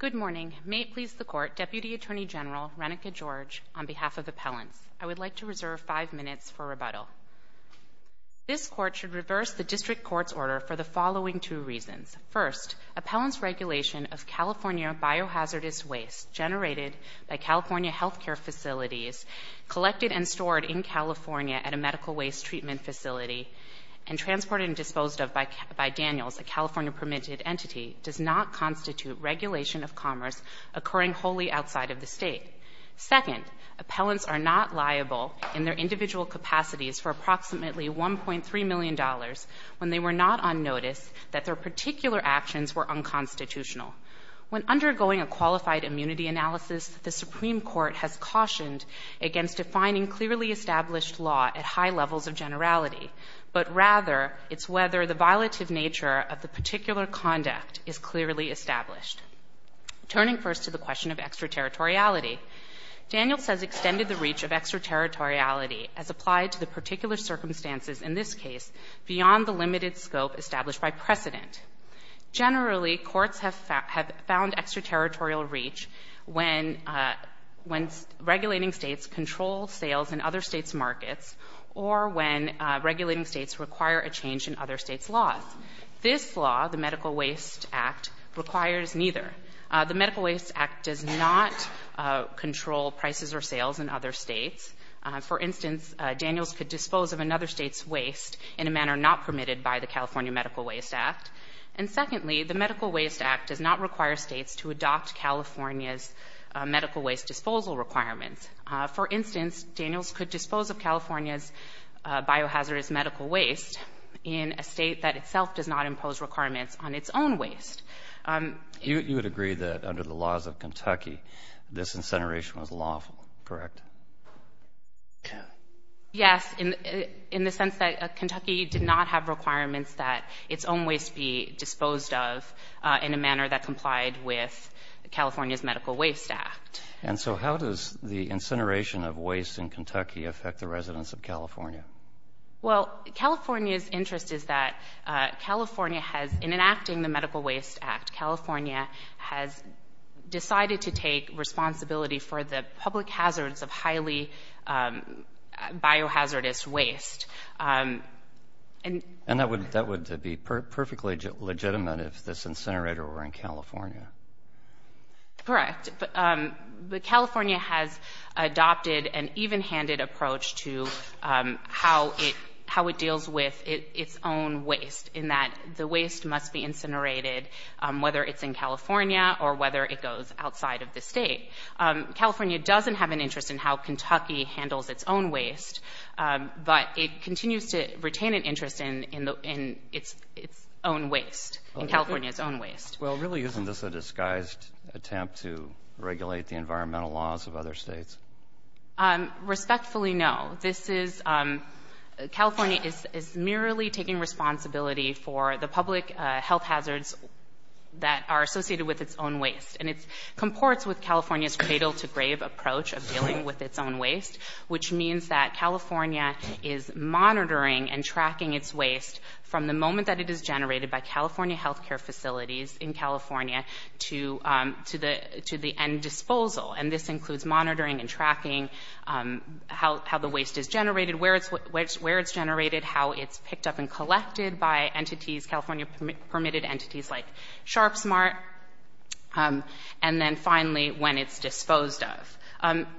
Good morning. May it please the Court, Deputy Attorney General Renika George, on behalf of Appellants, I would like to reserve five minutes for rebuttal. This Court should reverse the District Court's order for the following two reasons. First, Appellants' regulation of California biohazardous waste generated by California health care facilities, collected and stored in California at a medical waste treatment facility, and transported and disposed of by Daniels, a California-permitted entity, does not constitute regulation of commerce occurring wholly outside of the State. Second, Appellants are not liable in their individual capacities for approximately $1.3 million when they were not on notice that their particular actions were unconstitutional. When undergoing a qualified immunity analysis, the Supreme Court has cautioned against defining clearly established law at high levels of generality, but rather it's whether the violative nature of the particular conduct is clearly established. Turning first to the question of extraterritoriality, Daniels has extended the reach of extraterritoriality as applied to the particular circumstances, in this case, beyond the limited scope established by precedent. Generally, courts have found extraterritorial reach when regulating States control sales in other States' markets or when regulating States require a change in other States' laws. This law, the Medical Waste Act, requires neither. The Medical Waste Act does not control prices or sales in other States. For instance, Daniels could dispose of another State's waste in a manner not permitted by the California Medical Waste Act. And secondly, the Medical Waste Act does not require States to adopt California's medical waste disposal requirements. For instance, Daniels could dispose of California's biohazardous medical waste in a State that itself does not impose requirements on its own waste. You would agree that under the laws of Kentucky, this incineration was lawful, correct? Yes, in the sense that Kentucky did not have requirements that its own waste be disposed of in a manner that complied with California's Medical Waste Act. And so how does the incineration of waste in Kentucky affect the residents of California? Well, California's interest is that California has, in enacting the Medical Waste Act, California has decided to take responsibility for the public hazards of highly biohazardous waste. And that would be perfectly legitimate if this incinerator were in California. Correct. But California has adopted an even-handed approach to how it deals with its own waste, in that the waste must be incinerated, whether it's in California or whether it goes outside of the State. California doesn't have an interest in how Kentucky handles its own waste, but it continues to retain an interest in its own waste, in California's own waste. Well, really, isn't this a disguised attempt to regulate the environmental laws of other states? Respectfully, no. This is — California is merely taking responsibility for the public health hazards that are associated with its own waste. And it comports with California's cradle-to-grave approach of dealing with its own waste, which means that California is monitoring and tracking its waste from the moment that it is generated by California health care facilities in California to the end disposal. And this includes monitoring and tracking how the waste is generated, where it's generated, how it's picked up and collected by entities, California-permitted entities like SharpSmart, and then, finally, when it's disposed of.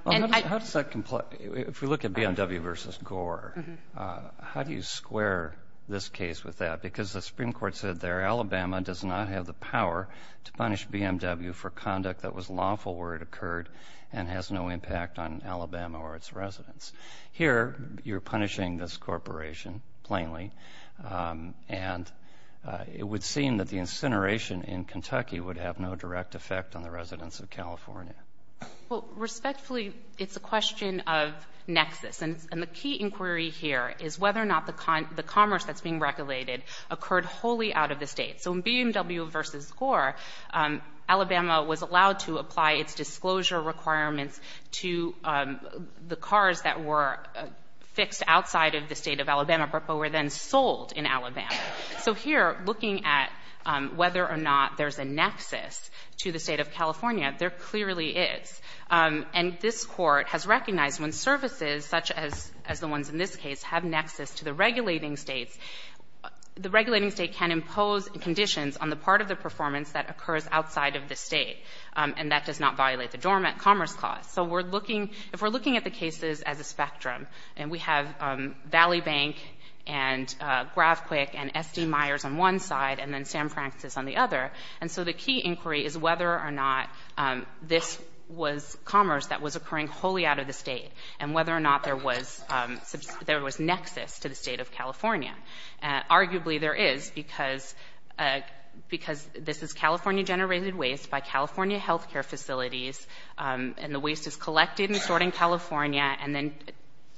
If we look at BMW v. Gore, how do you square this case with that? Because the Supreme Court said there Alabama does not have the power to punish BMW for conduct that was lawful where it occurred and has no impact on Alabama or its residents. Here, you're punishing this corporation, plainly, and it would seem that the incineration in Kentucky would have no direct effect on the residents of California. Well, respectfully, it's a question of nexus. And the key inquiry here is whether or not the commerce that's being regulated occurred wholly out of the state. So in BMW v. Gore, Alabama was allowed to apply its disclosure requirements to the cars that were fixed outside of the state of Alabama but were then sold in Alabama. So here, looking at whether or not there's a nexus to the state of California, there clearly is. And this Court has recognized when services, such as the ones in this case, have nexus to the regulating states, the regulating state can impose conditions on the part of the performance that occurs outside of the state, and that does not violate the dormant commerce clause. So we're looking, if we're looking at the cases as a spectrum, and we have Valley Bank and GravQuick and S.D. Myers on one side and then Sam Francis on the other, and so the key inquiry is whether or not this was commerce that was occurring wholly out of the state and whether or not there was nexus to the state of California. Arguably, there is because this is California-generated waste by California health care facilities, and the waste is collected and stored in California and then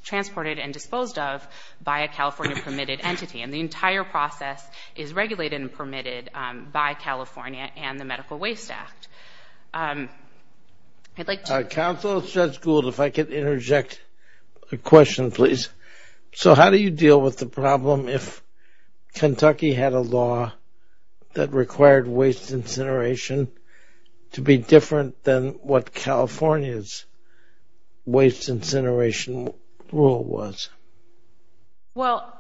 transported and disposed of by a California-permitted entity. And the entire process is regulated and permitted by California and the Medical Waste Act. Counsel, Judge Gould, if I could interject a question, please. So how do you deal with the problem if Kentucky had a law that required waste incineration to be different than what California's waste incineration rule was? Well,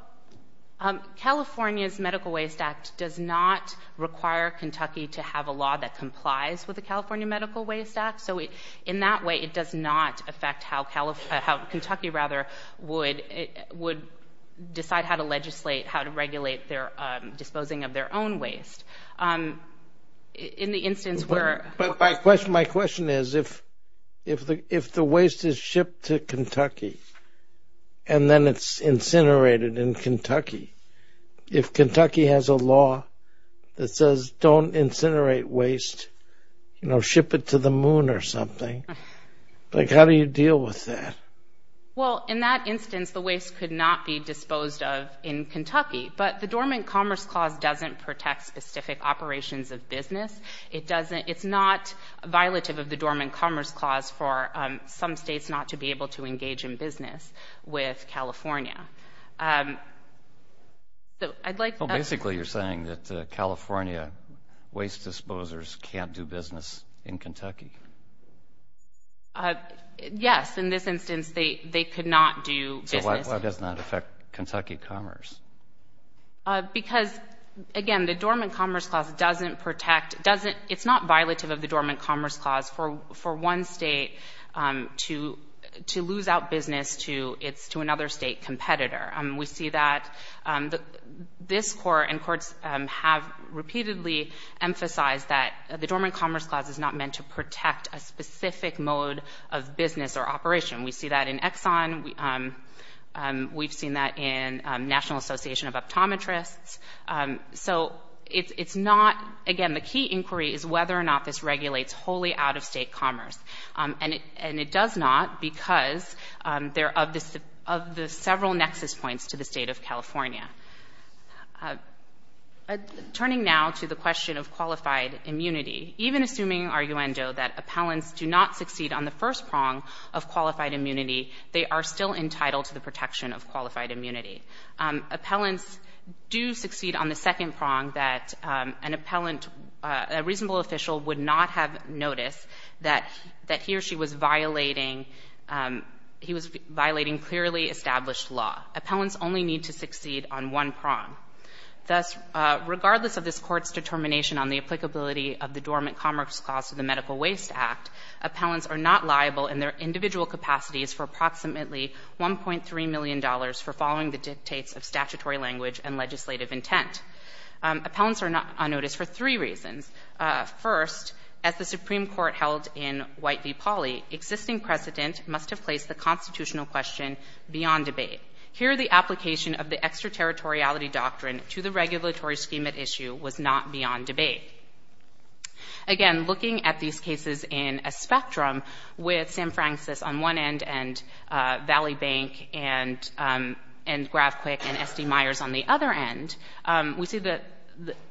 California's Medical Waste Act does not require Kentucky to have a law that complies with the California Medical Waste Act, so in that way it does not affect how Kentucky would decide how to legislate, how to regulate their disposing of their own waste. In the instance where- But my question is if the waste is shipped to Kentucky and then it's incinerated in Kentucky, if Kentucky has a law that says don't incinerate waste, you know, ship it to the moon or something, like how do you deal with that? Well, in that instance the waste could not be disposed of in Kentucky, but the Dormant Commerce Clause doesn't protect specific operations of business. It's not violative of the Dormant Commerce Clause for some states not to be able to engage in business with California. So I'd like- Well, basically you're saying that California waste disposers can't do business in Kentucky. Yes, in this instance they could not do business. So why does it not affect Kentucky commerce? Because, again, the Dormant Commerce Clause doesn't protect- it's not violative of the Dormant Commerce Clause for one state to lose out business to another state competitor. We see that. This Court and courts have repeatedly emphasized that the Dormant Commerce Clause is not meant to protect a specific mode of business or operation. We see that in Exxon. We've seen that in National Association of Optometrists. So it's not- again, the key inquiry is whether or not this regulates wholly out-of-state commerce, and it does not because they're of the several nexus points to the state of California. Turning now to the question of qualified immunity, even assuming, arguendo, that appellants do not succeed on the first prong of qualified immunity, they are still entitled to the protection of qualified immunity. Appellants do succeed on the second prong, that an appellant, a reasonable official, would not have noticed that he or she was violating clearly established law. Appellants only need to succeed on one prong. Thus, regardless of this Court's determination on the applicability of the Dormant Commerce Clause to the Medical Waste Act, appellants are not liable in their individual capacities for approximately $1.3 million for following the dictates of statutory language and legislative intent. Appellants are not on notice for three reasons. First, as the Supreme Court held in White v. Pauley, existing precedent must have placed the constitutional question beyond debate. Here, the application of the extraterritoriality doctrine to the regulatory scheme at issue was not beyond debate. Again, looking at these cases in a spectrum, with Sam Francis on one end and Valley Bank and GravQuick and S.D. Myers on the other end, we see that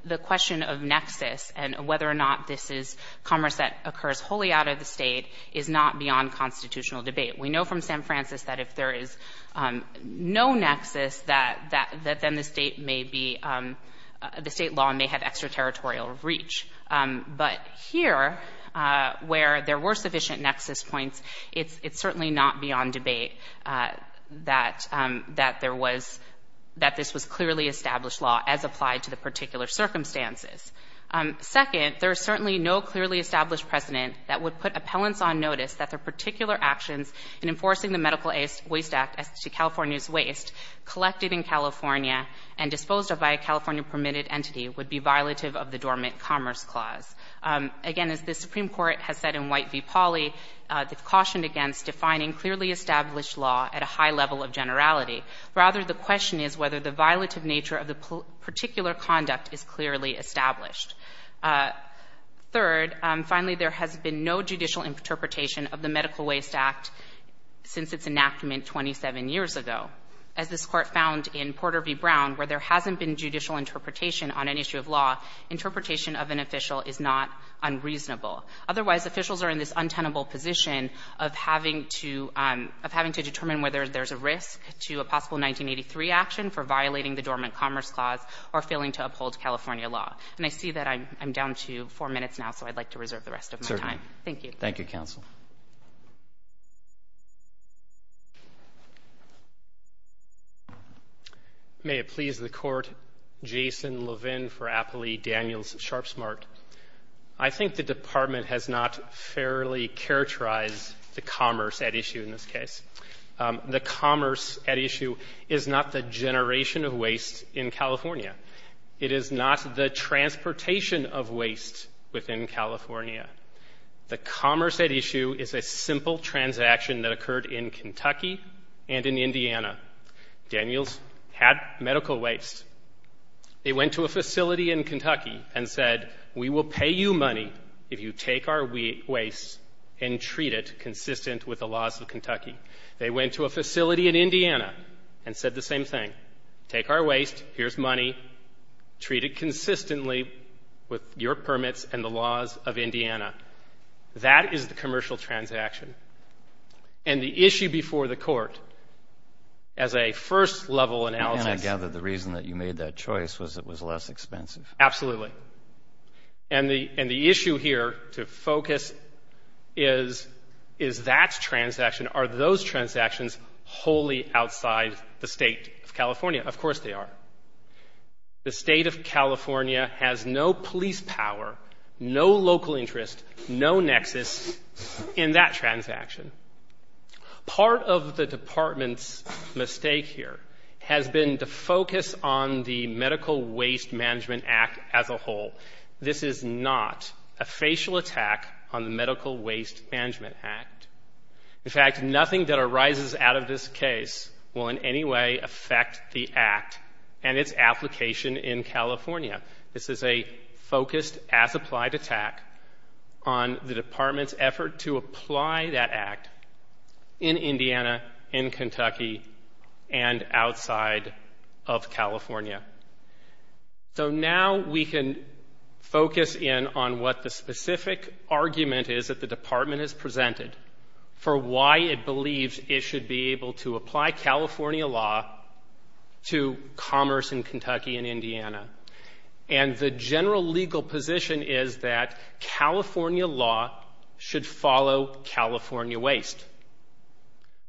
the question of nexus and whether or not this is commerce that occurs wholly out of the state is not beyond constitutional debate. We know from Sam Francis that if there is no nexus, that then the state may be, the state law may have extraterritorial reach. But here, where there were sufficient nexus points, it's certainly not beyond debate that there was, that this was clearly established law as applied to the particular circumstances. Second, there is certainly no clearly established precedent that would put appellants on notice that their particular actions in enforcing the Medical Waste Act as to California's waste collected in California and disposed of by a California-permitted entity would be violative of the Dormant Commerce Clause. Again, as the Supreme Court has said in White v. Pauley, it's cautioned against defining clearly established law at a high level of generality. Rather, the question is whether the violative nature of the particular conduct is clearly established. Third, finally, there has been no judicial interpretation of the Medical Waste Act since its enactment 27 years ago. As this Court found in Porter v. Brown, where there hasn't been judicial interpretation on an issue of law, interpretation of an official is not unreasonable. Otherwise, officials are in this untenable position of having to determine whether there's a risk to a possible 1983 action for violating the Dormant Commerce Clause or failing to uphold California law. And I see that I'm down to four minutes now, so I'd like to reserve the rest of my time. Thank you. Roberts. Thank you, counsel. May it please the Court, Jason Levin for Appley, Daniels, and Sharpsmart. I think the Department has not fairly characterized the commerce at issue in this case. The commerce at issue is not the generation of waste in California. It is not the transportation of waste within California. The commerce at issue is a simple transaction that occurred in Kentucky and in Indiana. Daniels had medical waste. They went to a facility in Kentucky and said, we will pay you money if you take our medical waste and treat it consistent with the laws of Kentucky. They went to a facility in Indiana and said the same thing. Take our waste. Here's money. Treat it consistently with your permits and the laws of Indiana. That is the commercial transaction. And the issue before the Court, as a first-level analysis — And I gather the reason that you made that choice was it was less expensive. Absolutely. And the issue here to focus is, is that transaction, are those transactions wholly outside the State of California? Of course they are. The State of California has no police power, no local interest, no nexus in that transaction. Part of the Department's mistake here has been to focus on the Medical Waste Management Act as a whole. This is not a facial attack on the Medical Waste Management Act. In fact, nothing that arises out of this case will in any way affect the Act and its application in California. This is a focused, as-applied attack on the Department's effort to apply that Act in Indiana, in Kentucky, and outside of California. So now we can focus in on what the specific argument is that the Department has presented for why it believes it should be able to apply California law to commerce in Kentucky and Indiana. And the general legal position is that California law should follow California waste.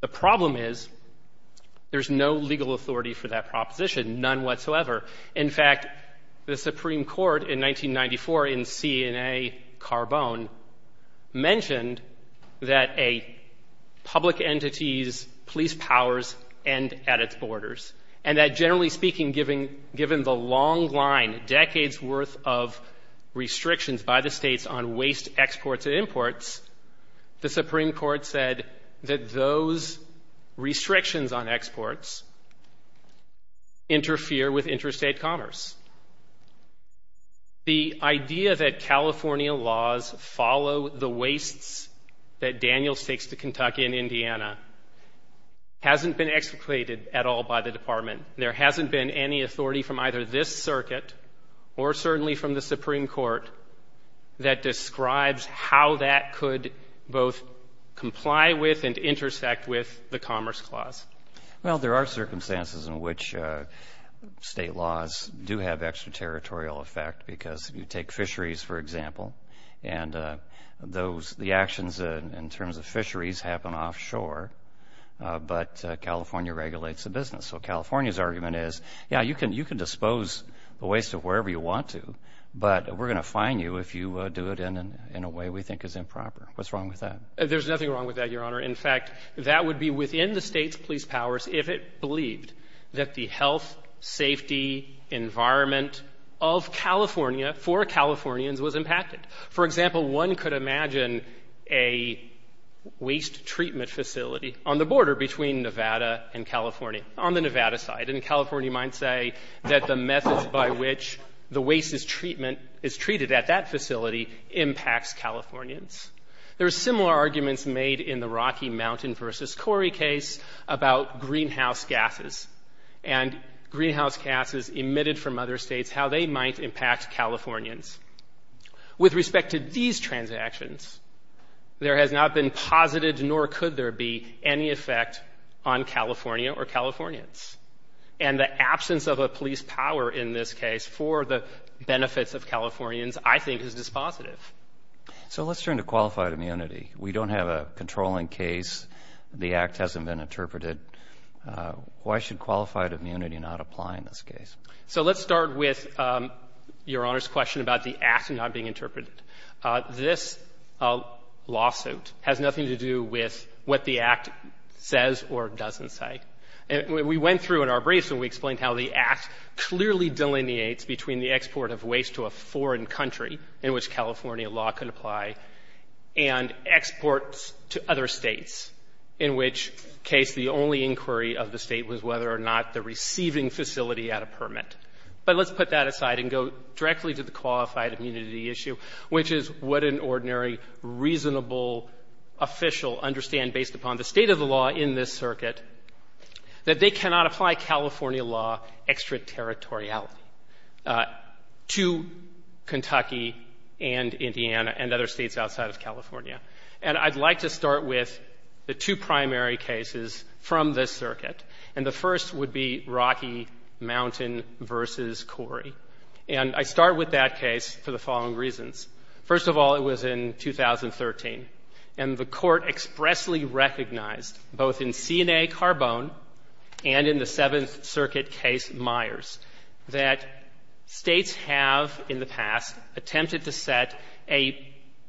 The problem is there's no legal authority for that proposition, none whatsoever. In fact, the Supreme Court in 1994 in CNA-Carbone mentioned that a public entity's police powers end at its borders, and that generally speaking, given the long line, decades' worth of restrictions by the states on waste exports and that those restrictions on exports interfere with interstate commerce. The idea that California laws follow the wastes that Daniel stakes to Kentucky and Indiana hasn't been explicated at all by the Department. There hasn't been any authority from either this circuit or certainly from the Supreme Court that describes how that could both comply with and intersect with the Commerce Clause. Well, there are circumstances in which state laws do have extraterritorial effect because if you take fisheries, for example, and the actions in terms of fisheries happen offshore, but California regulates the business. So California's argument is, yeah, you can dispose the waste of wherever you want to, but we're going to fine you if you do it in a way we think is improper. What's wrong with that? There's nothing wrong with that, Your Honor. In fact, that would be within the state's police powers if it believed that the health, safety environment of California for Californians was impacted. For example, one could imagine a waste treatment facility on the border between Nevada and California, on the Nevada side. And California might say that the methods by which the waste is treated at that facility impacts Californians. There are similar arguments made in the Rocky Mountain v. Corey case about greenhouse gases and greenhouse gases emitted from other states, how they might impact Californians. With respect to these transactions, there has not been posited nor could there be any effect on California or Californians. And the absence of a police power in this case for the benefits of Californians, I think, is dispositive. So let's turn to qualified immunity. We don't have a controlling case. The Act hasn't been interpreted. Why should qualified immunity not apply in this case? So let's start with Your Honor's question about the Act not being interpreted. This lawsuit has nothing to do with what the Act says or doesn't say. We went through in our briefs and we explained how the Act clearly delineates between the export of waste to a foreign country, in which California law could apply, and exports to other states, in which case the only inquiry of the State was whether or not the receiving facility had a permit. But let's put that aside and go directly to the qualified immunity issue, which is what an ordinary reasonable official understand based upon the state of the law in this circuit, that they cannot apply California law extraterritoriality to Kentucky and Indiana and other states outside of California. And I'd like to start with the two primary cases from this circuit. And the first would be Rocky Mountain v. Corey. And I start with that case for the following reasons. First of all, it was in 2013, and the Court expressly recognized, both in CNA Carbone and in the Seventh Circuit case Myers, that States have in the past attempted to set a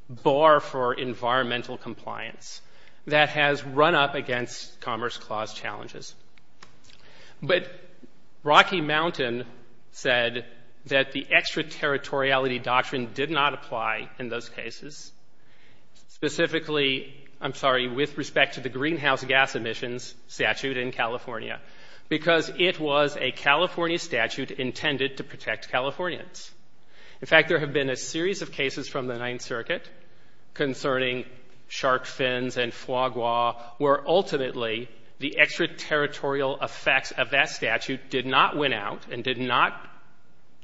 bar for environmental compliance that has run up against Commerce Clause challenges. But Rocky Mountain said that the extraterritoriality doctrine did not apply in those cases, specifically, I'm sorry, with respect to the greenhouse gas emissions statute in California, because it was a California statute intended to protect Californians. In fact, there have been a series of cases from the Ninth Circuit concerning shark fins and foie gras, where ultimately the extraterritorial effects of that statute did not win out and did not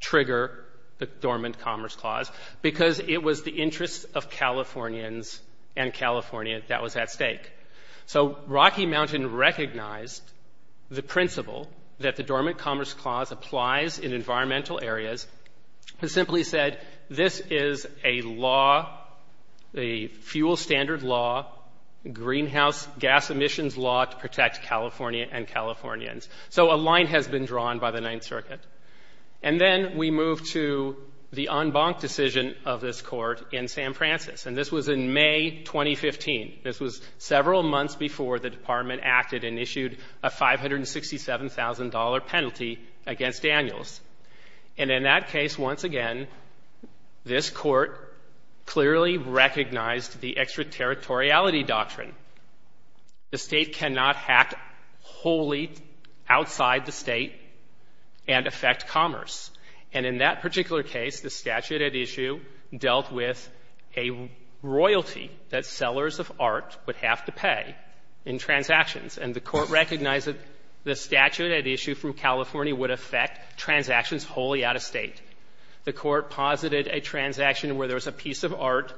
trigger the Dormant Commerce Clause, because it was the interests of Californians and California that was at stake. So Rocky Mountain recognized the principle that the Dormant Commerce Clause applies in environmental areas. It simply said this is a law, a fuel standard law, greenhouse gas emissions law to protect California and Californians. So a line has been drawn by the Ninth Circuit. And then we move to the en banc decision of this Court in San Francis. And this was in May 2015. This was several months before the Department acted and issued a $567,000 penalty against Daniels. And in that case, once again, this Court clearly recognized the extraterritoriality doctrine. The State cannot hack wholly outside the State and affect commerce. And in that particular case, the statute at issue dealt with a royalty that sellers of art would have to pay in transactions. And the Court recognized that the statute at issue through California would affect transactions wholly out of State. The Court posited a transaction where there was a piece of art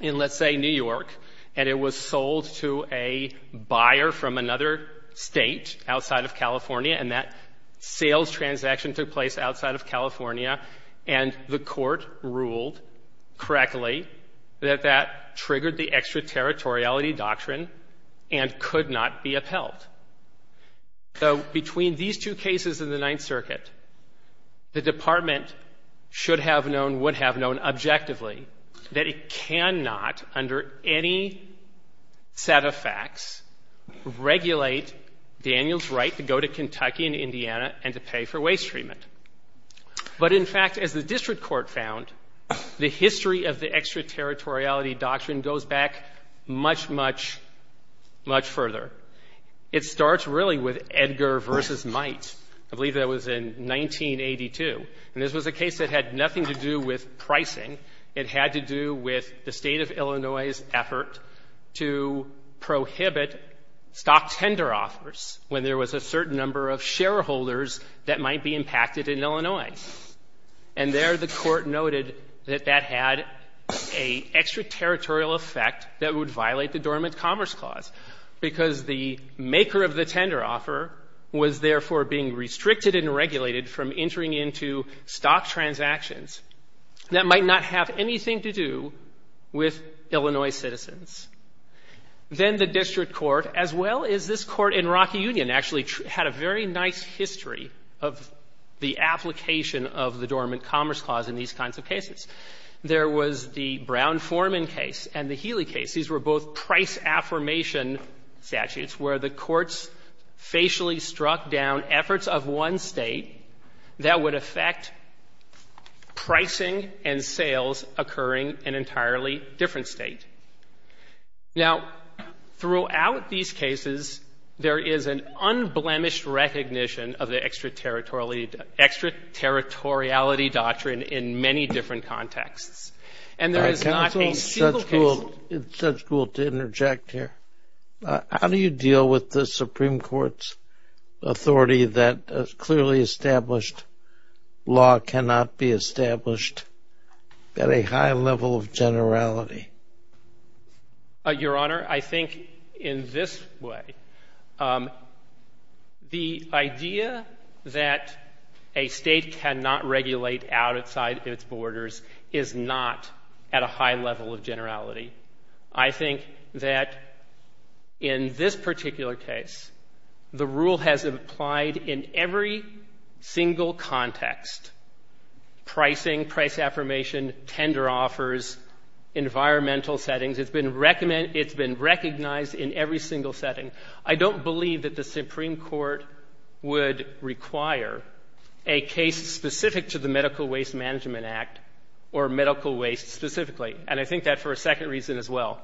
in, let's say, New York, and it was sold to a buyer from another State outside of California, and that sales transaction took place outside of California. And the Court ruled correctly that that triggered the extraterritoriality doctrine and could not be upheld. So between these two cases in the Ninth Circuit, the Department should have known, would have known objectively that it cannot, under any set of facts, regulate Daniels' right to go to Kentucky and Indiana and to pay for waste treatment. But, in fact, as the district court found, the history of the extraterritoriality doctrine goes back much, much, much further. It starts really with Edgar v. Might. I believe that was in 1982. And this was a case that had nothing to do with pricing. It had to do with the State of Illinois's effort to prohibit stock tender offers when there was a certain number of shareholders that might be impacted in Illinois. And there the Court noted that that had an extraterritorial effect that would violate the Dormant Commerce Clause because the maker of the tender offer was therefore being restricted and regulated from entering into stock transactions that might not have anything to do with Illinois citizens. Then the district court, as well as this court in Rocky Union, actually had a very nice history of the application of the Dormant Commerce Clause in these kinds of cases. There was the Brown-Forman case and the Healy case. These were both price affirmation statutes where the courts facially struck down efforts of one State that would affect pricing and sales occurring in an entirely different State. Now, throughout these cases, there is an unblemished recognition of the extraterritoriality doctrine in many different contexts. And there is not a single case. It's such cool to interject here. How do you deal with the Supreme Court's authority that a clearly established law cannot be established at a high level of generality? Your Honor, I think in this way, the idea that a State cannot regulate outside its borders is not at a high level of generality. I think that in this particular case, the rule has implied in every single context pricing, price affirmation, tender offers, environmental settings. It's been recognized in every single setting. I don't believe that the Supreme Court would require a case specific to the Medical Waste Management Act or medical waste specifically. And I think that for a second reason as well.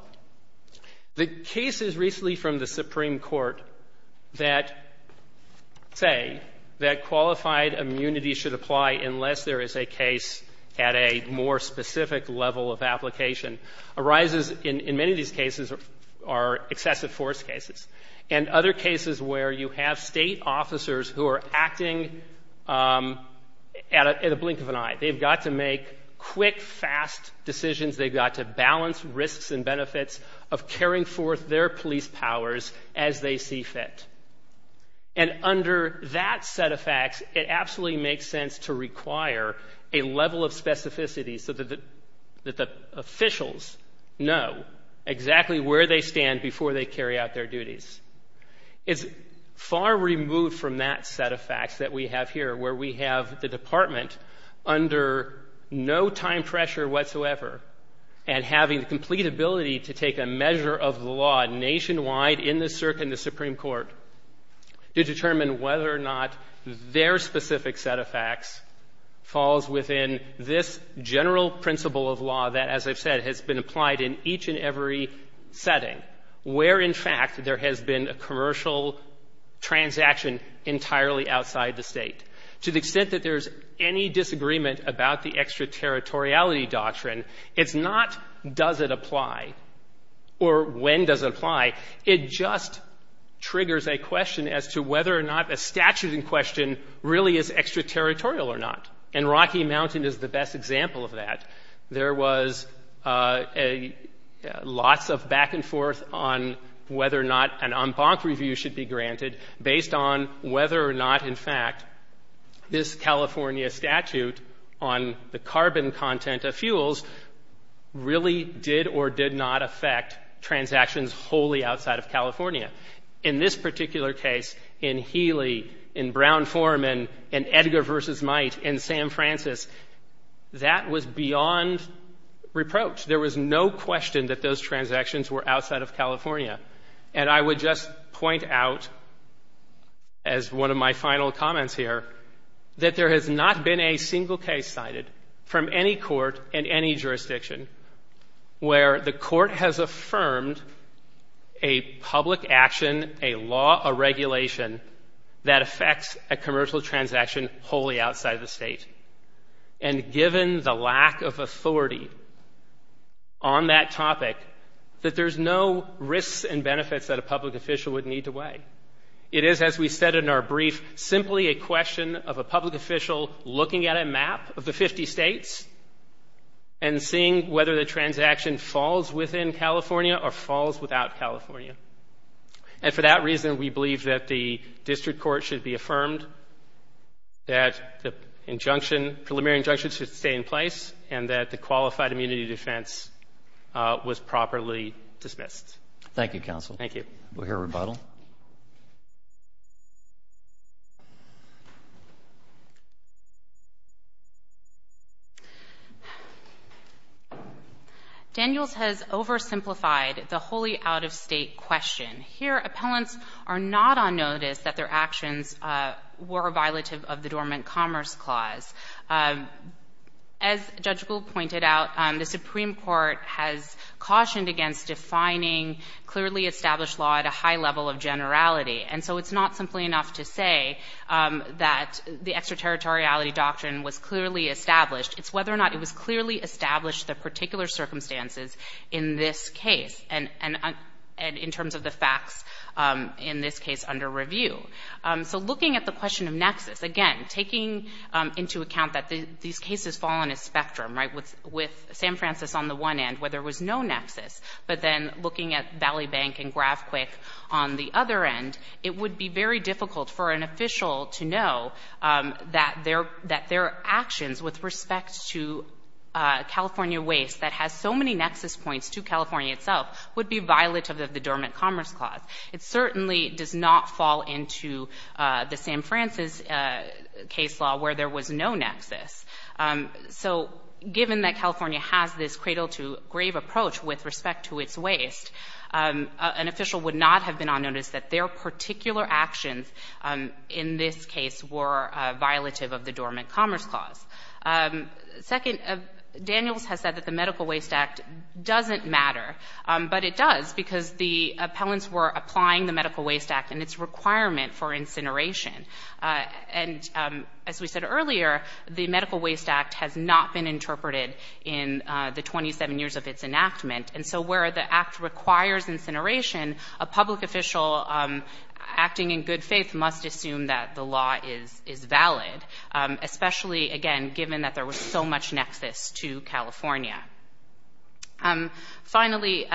The cases recently from the Supreme Court that say that qualified immunity should apply unless there is a case at a more specific level of application arises in many of these cases are excessive force cases. And other cases where you have State officers who are acting at a blink of an eye. They've got to make quick, fast decisions. They've got to balance risks and benefits of carrying forth their police powers as they see fit. And under that set of facts, it absolutely makes sense to require a level of specificity so that the officials know exactly where they stand before they carry out their duties. It's far removed from that set of facts that we have here where we have the Department under no time pressure whatsoever and having the complete ability to take a measure of the law nationwide in the Circuit and the Supreme Court to determine whether or not their specific set of facts falls within this general principle of law that, as I've said, has been applied in each and every setting, where, in fact, there has been a commercial transaction entirely outside the State. To the extent that there's any disagreement about the extraterritoriality of the doctrine, it's not does it apply or when does it apply. It just triggers a question as to whether or not a statute in question really is extraterritorial or not. And Rocky Mountain is the best example of that. There was lots of back and forth on whether or not an en banc review should be granted based on whether or not, in fact, this California statute on the carbon content of fuels really did or did not affect transactions wholly outside of California. In this particular case, in Healy, in Brown-Forman, in Edgar v. Might, in Sam Francis, that was beyond reproach. There was no question that those transactions were outside of California. And I would just point out, as one of my final comments here, that there has not been a single case cited from any court in any jurisdiction where the court has affirmed a public action, a law, a regulation that affects a commercial transaction wholly outside of the State. And given the lack of authority on that topic, that there's no risks and benefits that a public official would need to weigh. It is, as we said in our brief, simply a question of a public official looking at a map of the 50 States and seeing whether the transaction falls within California or falls without California. And for that reason, we believe that the district court should be affirmed, that the injunction, preliminary injunction should stay in place, and that the qualified immunity defense was properly dismissed. Thank you, counsel. Thank you. We'll hear rebuttal. Daniels has oversimplified the wholly out-of-State question. Here, appellants are not on notice that their actions were violative of the Dormant Commerce Clause. As Judge Gould pointed out, the Supreme Court has cautioned against defining clearly established law at a high level of generality. And so it's not simply enough to say that the extraterritoriality doctrine was clearly established. It's whether or not it was clearly established, the particular circumstances in this case, and in terms of the facts in this case under review. So looking at the question of nexus, again, taking into account that these cases fall on a spectrum, right, with San Francisco on the one end where there was no nexus, and Valley Bank and Gravquick on the other end, it would be very difficult for an official to know that their actions with respect to California waste that has so many nexus points to California itself would be violative of the Dormant Commerce Clause. It certainly does not fall into the San Francis case law where there was no nexus. So given that California has this cradle-to-grave approach with respect to its waste, an official would not have been unnoticed that their particular actions in this case were violative of the Dormant Commerce Clause. Second, Daniels has said that the Medical Waste Act doesn't matter, but it does because the appellants were applying the Medical Waste Act and its requirement for incineration. And as we said earlier, the Medical Waste Act has not been interpreted in the 27 years of its enactment. And so where the act requires incineration, a public official acting in good faith must assume that the law is valid, especially, again, given that there was so much nexus to California. Finally,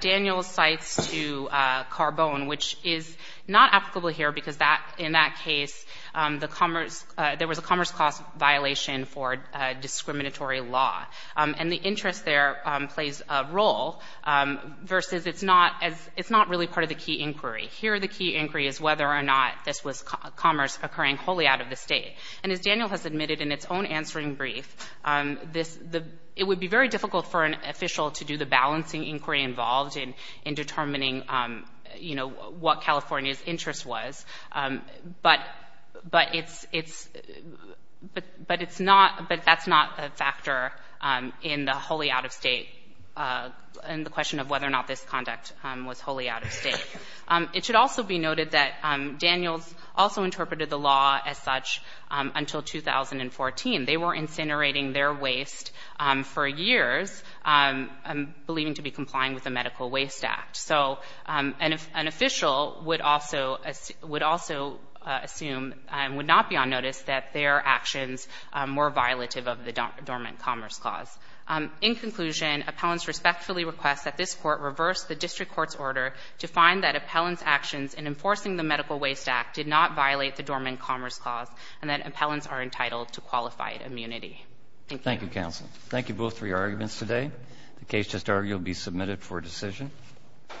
Daniels cites to Carbone, which is not applicable here because in that case, there was a Commerce Clause violation for discriminatory law. And the interest there plays a role versus it's not really part of the key inquiry. Here, the key inquiry is whether or not this was commerce occurring wholly out of the state. And as Daniel has admitted in its own answering brief, it would be very difficult for an official to do the balancing inquiry involved in determining, you know, what California's interest was. But it's not, but that's not a factor in the wholly out of state, in the question of whether or not this conduct was wholly out of state. It should also be noted that Daniels also interpreted the law as such until 2014. They were incinerating their waste for years, believing to be complying with the Medical Waste Act. So an official would also assume and would not be on notice that their actions were violative of the Dormant Commerce Clause. In conclusion, appellants respectfully request that this Court reverse the district court's order to find that appellants' actions in enforcing the Medical Waste Act did not violate the Dormant Commerce Clause and that appellants are entitled to qualified immunity. Thank you. Roberts. Thank you, counsel. Thank you both for your arguments today. The case just argued will be submitted for decision. Thank you.